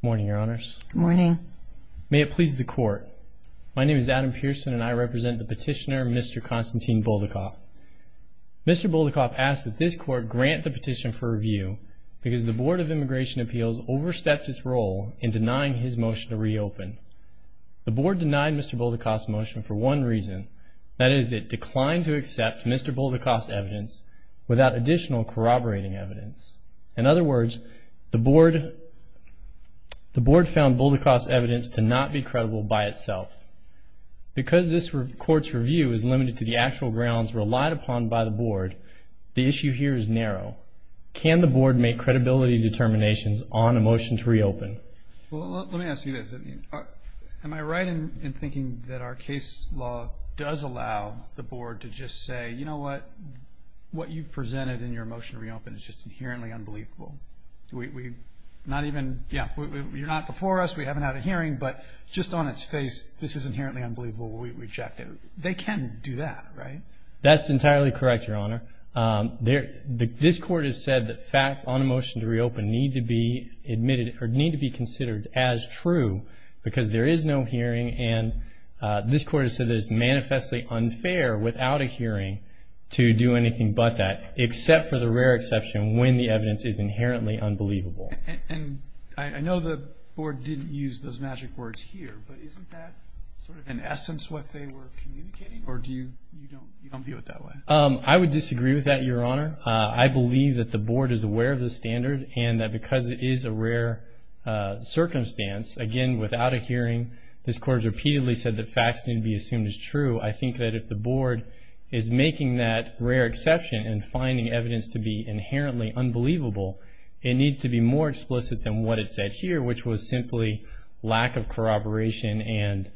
Good morning, Your Honors. Good morning. May it please the Court, my name is Adam Pearson and I represent the petitioner Mr. Konstantin Buldakov. Mr. Buldakov asked that this Court grant the petition for review because the Board of Immigration Appeals overstepped its role in denying his motion to reopen. The Board denied Mr. Buldakov's motion for one reason, that is it declined to accept Mr. Buldakov's evidence without additional corroborating evidence. In other words, the Board found Buldakov's evidence to not be credible by itself. Because this Court's review is limited to the actual grounds relied upon by the Board, the issue here is narrow. Can the Board make credibility determinations on a motion to reopen? Well, let me ask you this. Am I right in thinking that our case law does allow the Board to just say, you know what, what you've presented in your motion to reopen is just inherently unbelievable? We've not even, yeah, you're not before us, we haven't had a hearing, but just on its face this is inherently unbelievable, we reject it. They can do that, right? That's entirely correct, Your Honor. This Court has said that facts on a motion to reopen need to be admitted or need to be considered as true because there is no hearing and this Court has said it is manifestly unfair without a hearing to do anything but that, except for the rare exception when the evidence is inherently unbelievable. And I know the Board didn't use those magic words here, but isn't that sort of in essence what they were communicating or do you, you don't view it that way? I would disagree with that, Your Honor. I believe that the Board is aware of the standard and that because it is a rare circumstance, again, without a hearing, this Court has repeatedly said that facts need to be assumed as true. I think that if the Board is making that rare exception and finding evidence to be inherently unbelievable, it needs to be more explicit than what it said here, which was simply lack of corroboration and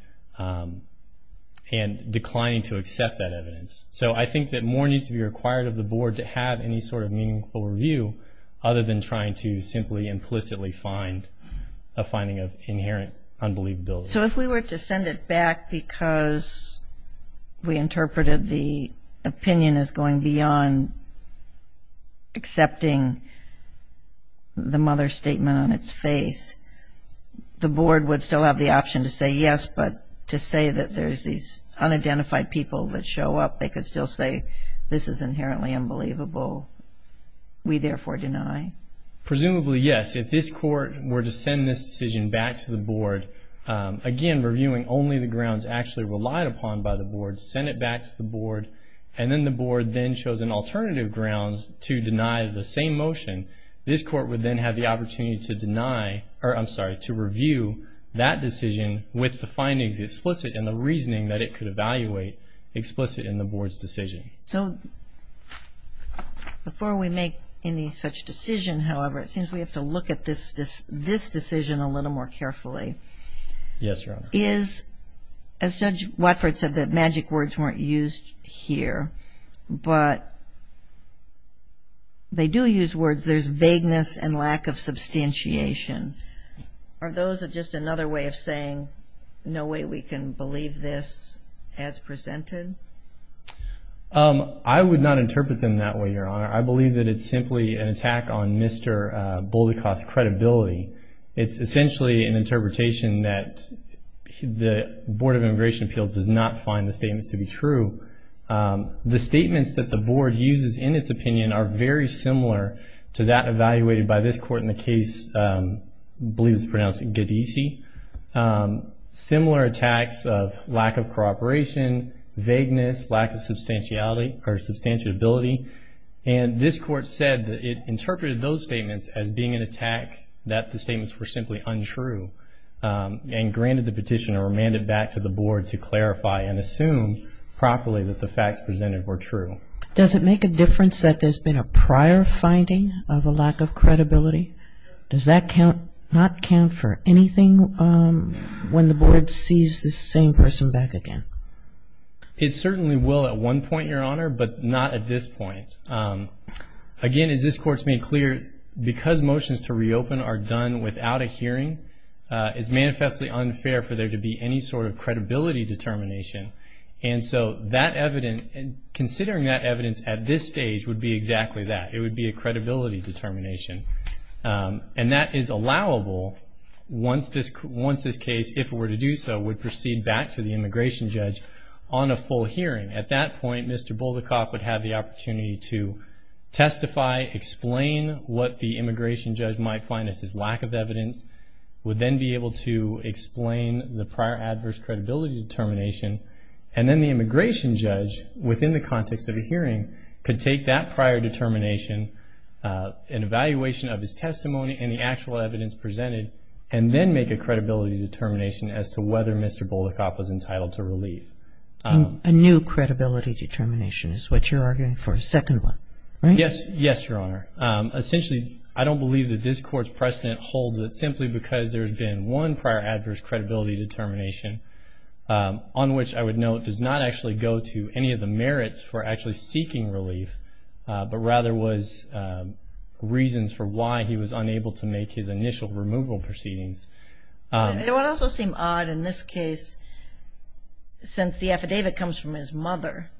declining to accept that evidence. So I think that more needs to be required of the Board to have any sort of meaningful review other than trying to simply implicitly find a finding of inherent unbelievability. So if we were to send it back because we interpreted the opinion as going beyond accepting the mother's statement on its face, the Board would still have the option to say yes, but to say that there's these unidentified people that show up, they could still say this is inherently unbelievable. We therefore deny? Presumably yes. If this Court were to send this decision back to the Board, again, reviewing only the grounds actually relied upon by the Board, send it back to the Board, and then the Board then chose an alternative ground to deny the same motion, this Court would then have the opportunity to deny, or I'm sorry, to review that decision with the findings explicit and the reasoning that it could evaluate explicit in the Board's decision. Okay. So before we make any such decision, however, it seems we have to look at this decision a little more carefully. Yes, Your Honor. Is, as Judge Watford said, that magic words weren't used here, but they do use words. There's vagueness and lack of substantiation. Are those just another way of saying no way we can believe this as presented? I would not interpret them that way, Your Honor. I believe that it's simply an attack on Mr. Boldacoff's credibility. It's essentially an interpretation that the Board of Immigration Appeals does not find the statements to be true. The statements that the Board uses in its opinion are very similar to that evaluated by this Court in the case, I believe it's pronounced Gadesi. Similar attacks of lack of cooperation, vagueness, lack of substantiability, and this Court said that it interpreted those statements as being an attack, that the statements were simply untrue, and granted the petition or remanded back to the Board to clarify and assume properly that the facts presented were true. Does it make a difference that there's been a prior finding of a lack of credibility? Does that not count for anything when the Board sees the same person back again? It certainly will at one point, Your Honor, but not at this point. Again, as this Court's made clear, because motions to reopen are done without a hearing, it's manifestly unfair for there to be any sort of credibility determination, and so considering that evidence at this stage would be exactly that. It would be a credibility determination, and that is allowable once this case, if it were to do so, would proceed back to the immigration judge on a full hearing. At that point, Mr. Boldecoup would have the opportunity to testify, explain what the immigration judge might find as his lack of evidence, would then be able to explain the prior adverse credibility determination, and then the immigration judge, within the context of a hearing, could take that prior determination, an evaluation of his testimony and the actual evidence presented, and then make a credibility determination as to whether Mr. Boldecoup was entitled to relief. A new credibility determination is what you're arguing for, a second one, right? Yes, Your Honor. Essentially, I don't believe that this Court's precedent holds it simply because there's been one prior adverse credibility determination on which I would note does not actually go to any of the merits for actually seeking relief, but rather was reasons for why he was unable to make his initial removal proceedings. It would also seem odd in this case, since the affidavit comes from his mother,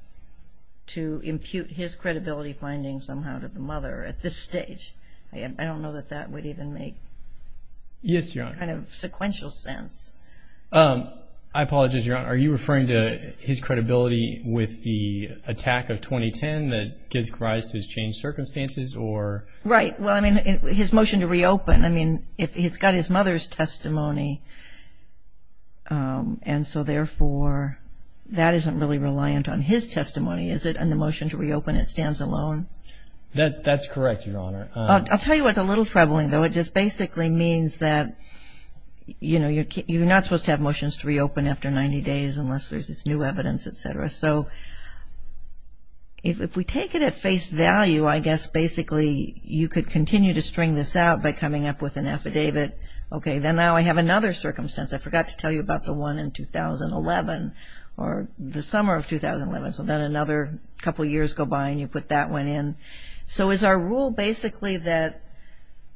to impute his credibility findings somehow to the mother at this stage. I don't know that that would even make kind of sequential sense. I apologize, Your Honor. Are you referring to his credibility with the attack of 2010 that gives rise to his changed circumstances? Right. Well, I mean, his motion to reopen, I mean, he's got his mother's testimony, and so therefore that isn't really reliant on his testimony, is it? And the motion to reopen, it stands alone? That's correct, Your Honor. I'll tell you what's a little troubling, though. It just basically means that, you know, you're not supposed to have motions to reopen after 90 days unless there's this new evidence, et cetera. So if we take it at face value, I guess, basically, you could continue to string this out by coming up with an affidavit. Okay, then now I have another circumstance. I forgot to tell you about the one in 2011 or the summer of 2011. So then another couple years go by and you put that one in. So is our rule basically that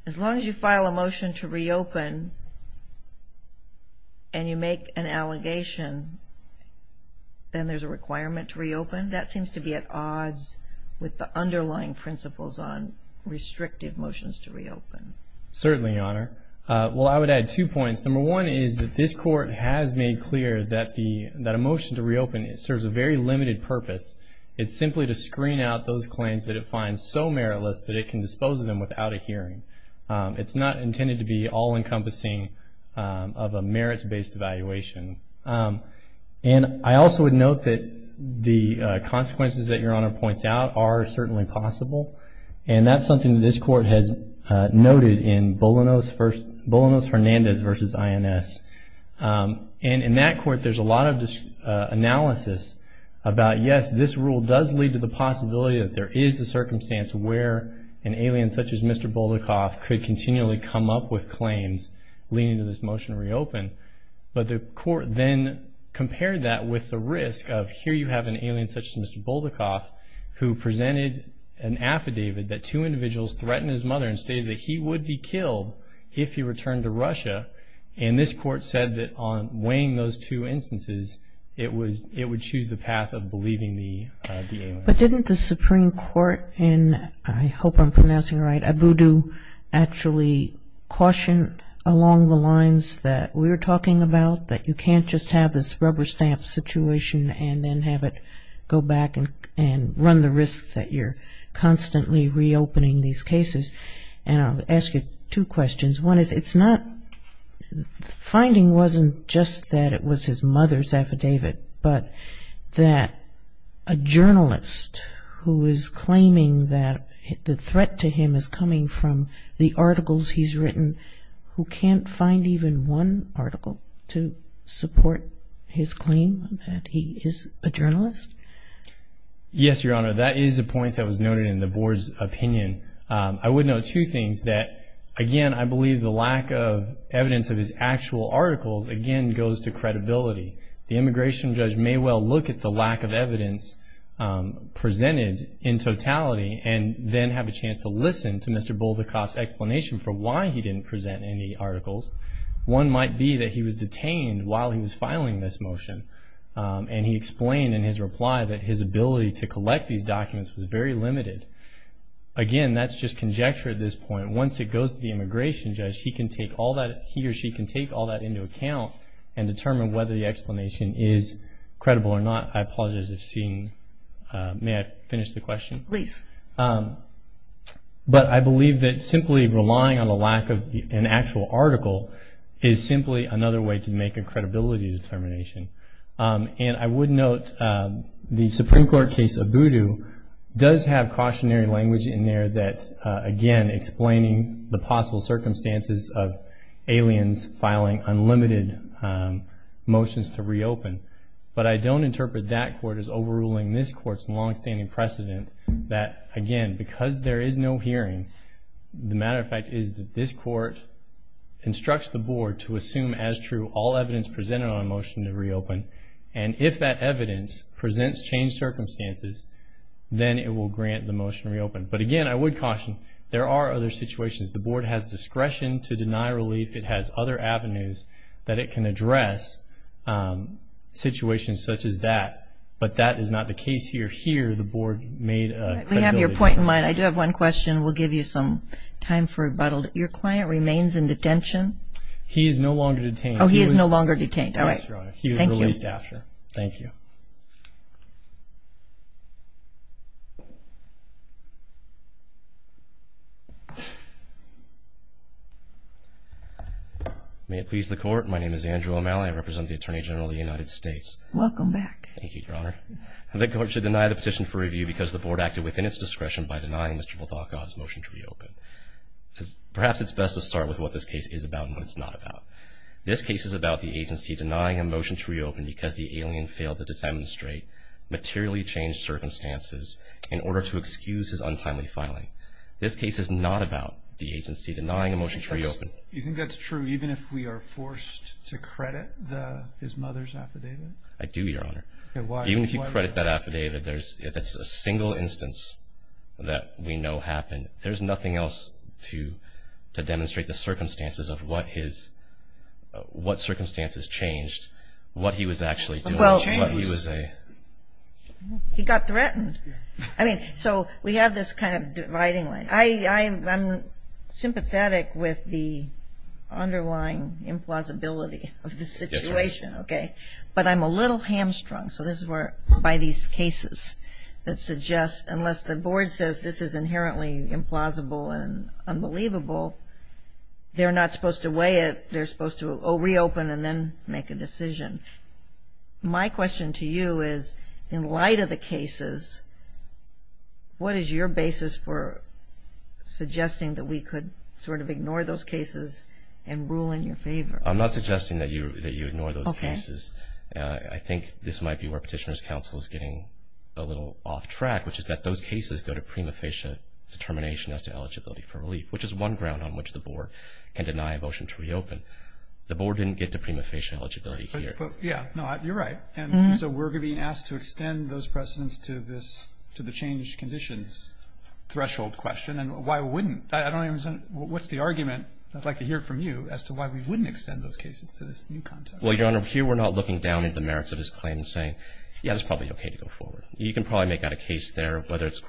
as long as you file a motion to reopen and you make an allegation, then there's a requirement to reopen? That seems to be at odds with the underlying principles on restrictive motions to reopen. Certainly, Your Honor. Well, I would add two points. Number one is that this Court has made clear that a motion to reopen, it serves a very limited purpose. It's simply to screen out those claims that it finds so meritless that it can dispose of them without a hearing. It's not intended to be all-encompassing of a merits-based evaluation. And I also would note that the consequences that Your Honor points out are certainly possible, and that's something that this Court has noted in Bolanos-Hernandez v. INS. And in that court, there's a lot of analysis about, yes, this rule does lead to the possibility that there is a circumstance where an alien such as Mr. Boldakov could continually come up with claims leading to this motion to reopen. But the Court then compared that with the risk of, here you have an alien such as Mr. Boldakov who presented an affidavit that two individuals threatened his mother and stated that he would be killed if he returned to Russia. And this Court said that on weighing those two instances, it would choose the path of believing the alien. But didn't the Supreme Court in, I hope I'm pronouncing it right, Abudu actually caution along the lines that we were talking about, that you can't just have this rubber stamp situation and then have it go back and run the risk that you're constantly reopening these cases? And I'll ask you two questions. One is it's not – the finding wasn't just that it was his mother's affidavit, but that a journalist who is claiming that the threat to him is coming from the articles he's written, who can't find even one article to support his claim that he is a journalist? Yes, Your Honor, that is a point that was noted in the Board's opinion. I would note two things that, again, I believe the lack of evidence of his actual articles, again, goes to credibility. The immigration judge may well look at the lack of evidence presented in totality and then have a chance to listen to Mr. Boldacoff's explanation for why he didn't present any articles. One might be that he was detained while he was filing this motion, and he explained in his reply that his ability to collect these documents was very limited. Again, that's just conjecture at this point. Once it goes to the immigration judge, he can take all that – is credible or not. I apologize if seeing – may I finish the question? Please. But I believe that simply relying on the lack of an actual article is simply another way to make a credibility determination. And I would note the Supreme Court case of Voodoo does have cautionary language in there that, again, explaining the possible circumstances of aliens filing unlimited motions to reopen. But I don't interpret that court as overruling this court's longstanding precedent that, again, because there is no hearing, the matter of fact is that this court instructs the Board to assume as true all evidence presented on a motion to reopen. And if that evidence presents changed circumstances, then it will grant the motion to reopen. But again, I would caution, there are other situations. The Board has discretion to deny relief. It has other avenues that it can address situations such as that. But that is not the case here. Here, the Board made a credibility determination. We have your point in mind. I do have one question. We'll give you some time for rebuttal. Your client remains in detention? He is no longer detained. All right. He was released after. Thank you. Thank you. May it please the Court, my name is Andrew O'Malley. I represent the Attorney General of the United States. Welcome back. Thank you, Your Honor. The Court should deny the petition for review because the Board acted within its discretion by denying Mr. Budalka's motion to reopen. Perhaps it's best to start with what this case is about and what it's not about. This case is about the agency denying a motion to reopen because the alien failed to demonstrate materially changed circumstances in order to excuse his untimely filing. This case is not about the agency denying a motion to reopen. You think that's true even if we are forced to credit his mother's affidavit? I do, Your Honor. Even if you credit that affidavit, that's a single instance that we know happened. There's nothing else to demonstrate the circumstances of what circumstances changed, what he was actually doing. Well, he got threatened. I mean, so we have this kind of dividing line. I'm sympathetic with the underlying implausibility of the situation, okay, but I'm a little hamstrung by these cases that suggest, unless the Board says this is inherently implausible and unbelievable, they're not supposed to weigh it. They're supposed to reopen and then make a decision. My question to you is, in light of the cases, what is your basis for suggesting that we could sort of ignore those cases and rule in your favor? I'm not suggesting that you ignore those cases. Okay. I think this might be where Petitioner's Counsel is getting a little off track, which is that those cases go to prima facie determination as to eligibility for relief, which is one ground on which the Board can deny a motion to reopen. The Board didn't get to prima facie eligibility here. But, yeah, no, you're right, and so we're being asked to extend those precedents to the change conditions threshold question, and why wouldn't? I don't understand. What's the argument I'd like to hear from you as to why we wouldn't extend those cases to this new context? Well, Your Honor, here we're not looking down at the merits of his claim and saying, yeah, it's probably okay to go forward. You can probably make out a case there, whether it's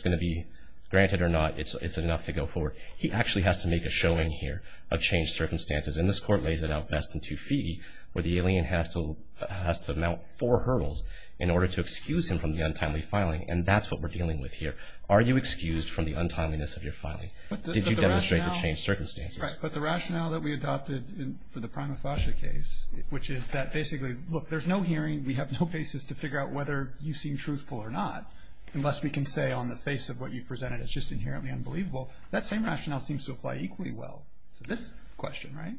going to be granted or not, it's enough to go forward. He actually has to make a showing here of changed circumstances, and this Court lays it out best in To Fee, where the alien has to mount four hurdles in order to excuse him from the untimely filing, and that's what we're dealing with here. Are you excused from the untimeliness of your filing? Did you demonstrate the changed circumstances? Right. But the rationale that we adopted for the prima facie case, which is that basically, look, there's no hearing. We have no basis to figure out whether you seem truthful or not, unless we can say on the face of what you presented, it's just inherently unbelievable. That same rationale seems to apply equally well to this question, right?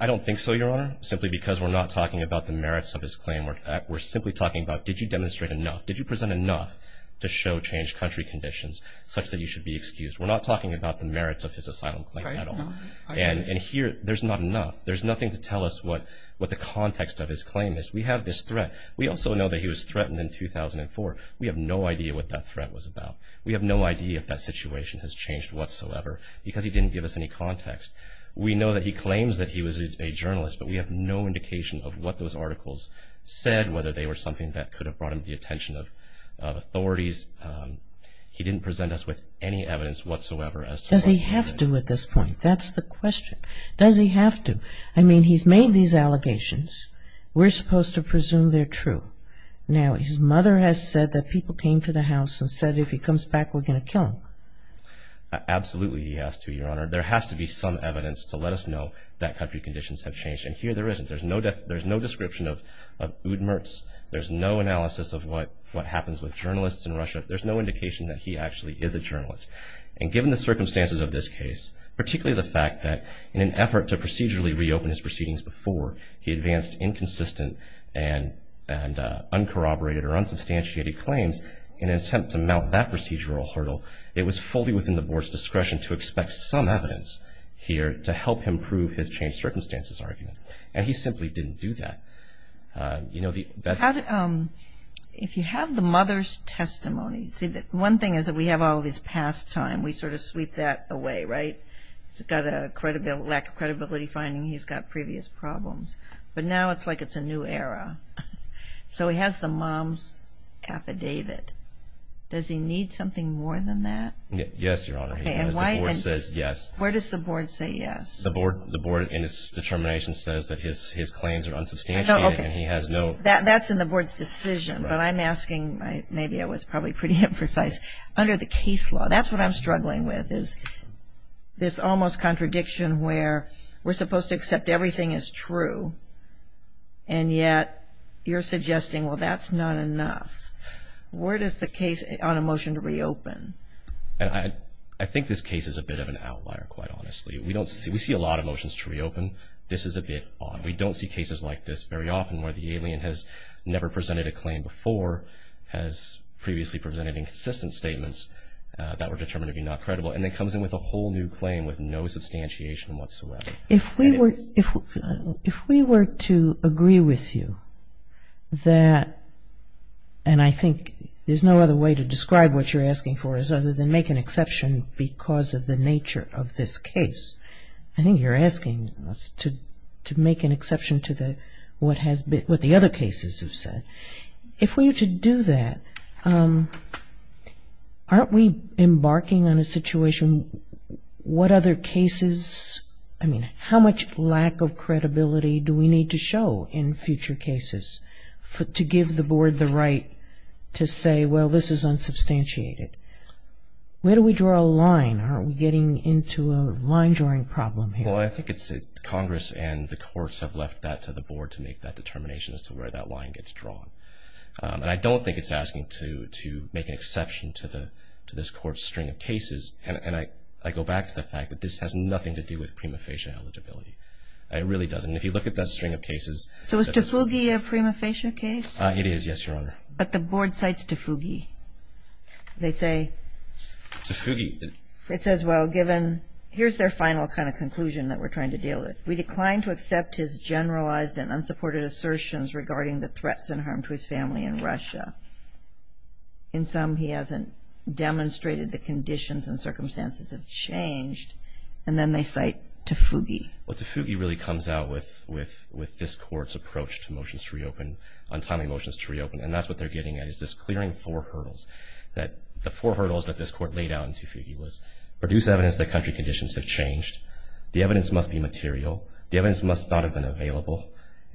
I don't think so, Your Honor, simply because we're not talking about the merits of his claim. We're simply talking about did you demonstrate enough? Did you present enough to show changed country conditions such that you should be excused? We're not talking about the merits of his asylum claim at all. And here, there's not enough. There's nothing to tell us what the context of his claim is. We have this threat. We also know that he was threatened in 2004. We have no idea what that threat was about. We have no idea if that situation has changed whatsoever because he didn't give us any context. We know that he claims that he was a journalist, but we have no indication of what those articles said, whether they were something that could have brought him to the attention of authorities. He didn't present us with any evidence whatsoever as to whether he did. Does he have to at this point? That's the question. Does he have to? I mean, he's made these allegations. We're supposed to presume they're true. Now, his mother has said that people came to the house and said, if he comes back, we're going to kill him. Absolutely, he has to, Your Honor. There has to be some evidence to let us know that country conditions have changed, and here there isn't. There's no description of Udmurt's. There's no analysis of what happens with journalists in Russia. There's no indication that he actually is a journalist. And given the circumstances of this case, particularly the fact that in an effort to procedurally reopen his proceedings before, he advanced inconsistent and uncorroborated or unsubstantiated claims in an attempt to mount that procedural hurdle, it was fully within the Board's discretion to expect some evidence here to help him prove his changed circumstances argument. And he simply didn't do that. You know, the veteran. If you have the mother's testimony, see, one thing is that we have all of his pastime. We sort of sweep that away, right? He's got a lack of credibility finding. He's got previous problems. But now it's like it's a new era. So he has the mom's affidavit. Does he need something more than that? Yes, Your Honor. The Board says yes. Where does the Board say yes? The Board, in its determination, says that his claims are unsubstantiated. That's in the Board's decision. But I'm asking, maybe I was probably pretty imprecise, under the case law. That's what I'm struggling with is this almost contradiction where we're supposed to accept everything as true, and yet you're suggesting, well, that's not enough. Where does the case on a motion to reopen? I think this case is a bit of an outlier, quite honestly. We see a lot of motions to reopen. This is a bit odd. We don't see cases like this very often where the alien has never presented a claim before, has previously presented inconsistent statements that were determined to be not credible, and then comes in with a whole new claim with no substantiation whatsoever. If we were to agree with you that, and I think there's no other way to describe what you're asking for other than make an exception because of the nature of this case. I think you're asking us to make an exception to what the other cases have said. If we were to do that, aren't we embarking on a situation what other cases, I mean how much lack of credibility do we need to show in future cases to give the board the right to say, well, this is unsubstantiated? Where do we draw a line? Are we getting into a line drawing problem here? Well, I think it's Congress and the courts have left that to the board to make that determination as to where that line gets drawn. And I don't think it's asking to make an exception to this court's string of cases. And I go back to the fact that this has nothing to do with prima facie eligibility. It really doesn't. And if you look at that string of cases. So is Tafugi a prima facie case? It is, yes, Your Honor. But the board cites Tafugi. They say. Tafugi. It says, well, given, here's their final kind of conclusion that we're trying to deal with. We decline to accept his generalized and unsupported assertions regarding the threats and harm to his family in Russia. In sum, he hasn't demonstrated the conditions and circumstances have changed. And then they cite Tafugi. Well, Tafugi really comes out with this court's approach to motions to reopen, untimely motions to reopen. And that's what they're getting at is this clearing four hurdles. The four hurdles that this court laid out in Tafugi was produce evidence that country conditions have changed. The evidence must be material. The evidence must not have been available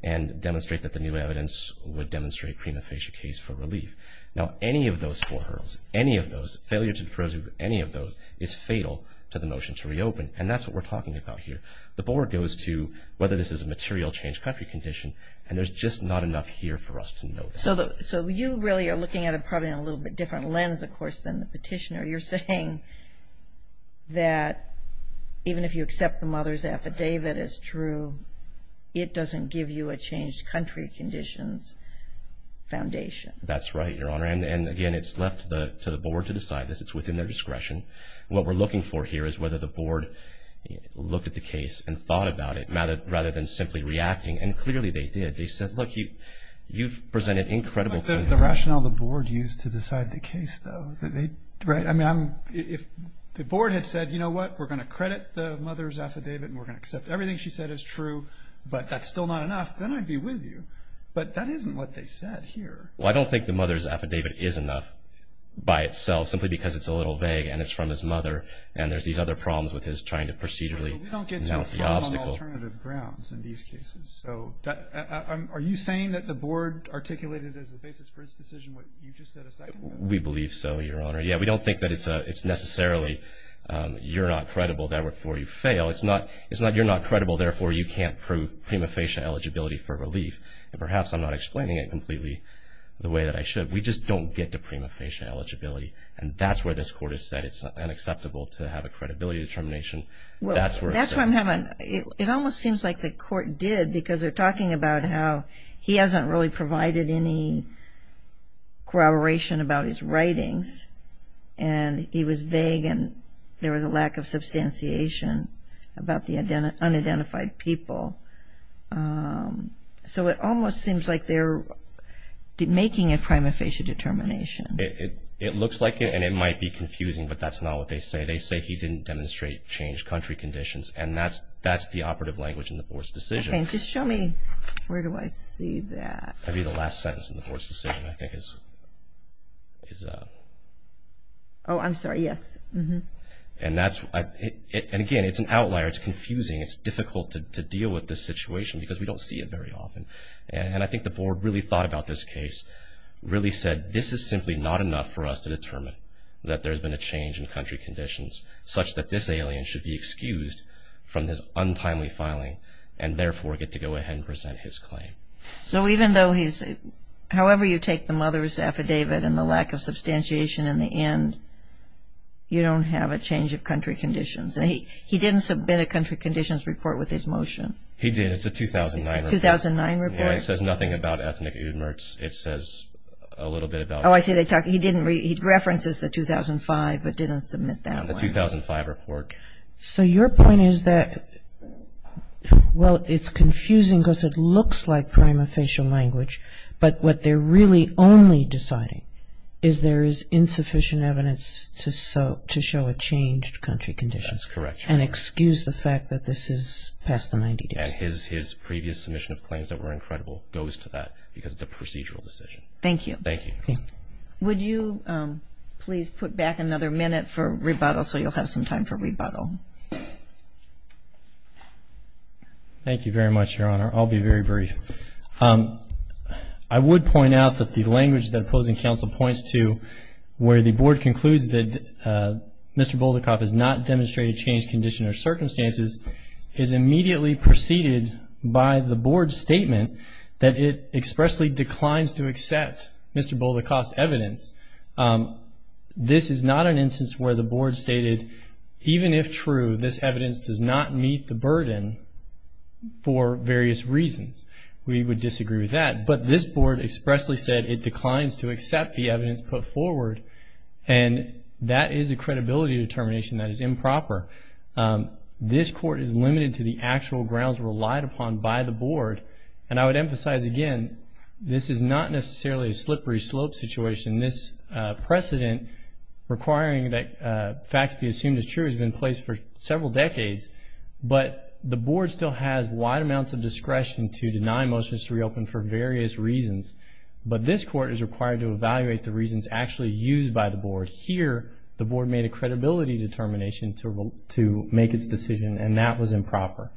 and demonstrate that the new evidence would demonstrate prima facie case for relief. Now, any of those four hurdles, any of those, failure to produce any of those, is fatal to the motion to reopen. And that's what we're talking about here. The board goes to whether this is a material change country condition, and there's just not enough here for us to know that. So you really are looking at it probably in a little bit different lens, of course, than the petitioner. So you're saying that even if you accept the mother's affidavit as true, it doesn't give you a changed country conditions foundation. That's right, Your Honor. And, again, it's left to the board to decide this. It's within their discretion. What we're looking for here is whether the board looked at the case and thought about it rather than simply reacting. And clearly they did. They said, look, you've presented incredible evidence. What about the rationale the board used to decide the case, though? Right. I mean, if the board had said, you know what, we're going to credit the mother's affidavit and we're going to accept everything she said is true, but that's still not enough, then I'd be with you. But that isn't what they said here. Well, I don't think the mother's affidavit is enough by itself, simply because it's a little vague and it's from his mother and there's these other problems with his trying to procedurally mount the obstacle. We don't get to affirm on alternative grounds in these cases. So are you saying that the board articulated as the basis for its decision what you just said a second ago? We believe so, Your Honor. Yeah, we don't think that it's necessarily you're not credible, therefore you fail. It's not you're not credible, therefore you can't prove prima facie eligibility for relief. And perhaps I'm not explaining it completely the way that I should. We just don't get to prima facie eligibility. And that's where this Court has said it's unacceptable to have a credibility determination. That's where it's at. It almost seems like the Court did because they're talking about how he hasn't really provided any corroboration about his writings and he was vague and there was a lack of substantiation about the unidentified people. So it almost seems like they're making a prima facie determination. It looks like it, and it might be confusing, but that's not what they say. They say he didn't demonstrate changed country conditions, and that's the operative language in the board's decision. Okay, just show me. Where do I see that? That would be the last sentence in the board's decision, I think. Oh, I'm sorry, yes. And again, it's an outlier. It's confusing. It's difficult to deal with this situation because we don't see it very often. And I think the board really thought about this case, really said this is simply not enough for us to determine that there's been a change in country conditions such that this alien should be excused from his untimely filing and therefore get to go ahead and present his claim. So even though he's ‑‑ however you take the mother's affidavit and the lack of substantiation in the end, you don't have a change of country conditions. And he didn't submit a country conditions report with his motion. He did. It's a 2009 report. 2009 report. It says nothing about ethnic Udmurts. It says a little bit about ‑‑ Oh, I see. He references the 2005 but didn't submit that one. The 2005 report. So your point is that, well, it's confusing because it looks like prima facie language, but what they're really only deciding is there is insufficient evidence to show a changed country condition. That's correct. And excuse the fact that this is past the 90 days. And his previous submission of claims that were incredible goes to that because it's a procedural decision. Thank you. Thank you. Would you please put back another minute for rebuttal so you'll have some time for rebuttal? Thank you very much, Your Honor. I'll be very brief. I would point out that the language that opposing counsel points to where the board concludes that Mr. Boldenkoff has not demonstrated a changed condition or circumstances is immediately preceded by the board's statement that it expressly declines to accept Mr. Boldenkoff's evidence. This is not an instance where the board stated, even if true, this evidence does not meet the burden for various reasons. We would disagree with that. But this board expressly said it declines to accept the evidence put forward, and that is a credibility determination that is improper. This court is limited to the actual grounds relied upon by the board, and I would emphasize again this is not necessarily a slippery slope situation. This precedent requiring that facts be assumed as true has been in place for several decades, but the board still has wide amounts of discretion to deny motions to reopen for various reasons. But this court is required to evaluate the reasons actually used by the board. Here, the board made a credibility determination to make its decision, and that was improper.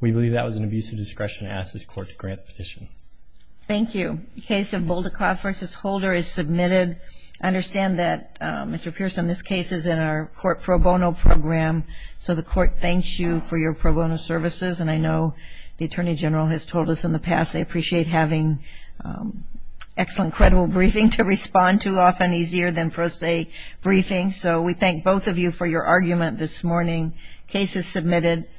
We believe that was an abuse of discretion to ask this court to grant the petition. Thank you. Case of Boldenkoff v. Holder is submitted. I understand that, Mr. Pearson, this case is in our court pro bono program, so the court thanks you for your pro bono services, and I know the Attorney General has told us in the past they appreciate having excellent credible briefing to respond to often easier than pro se briefing. So we thank both of you for your argument this morning. Case is submitted.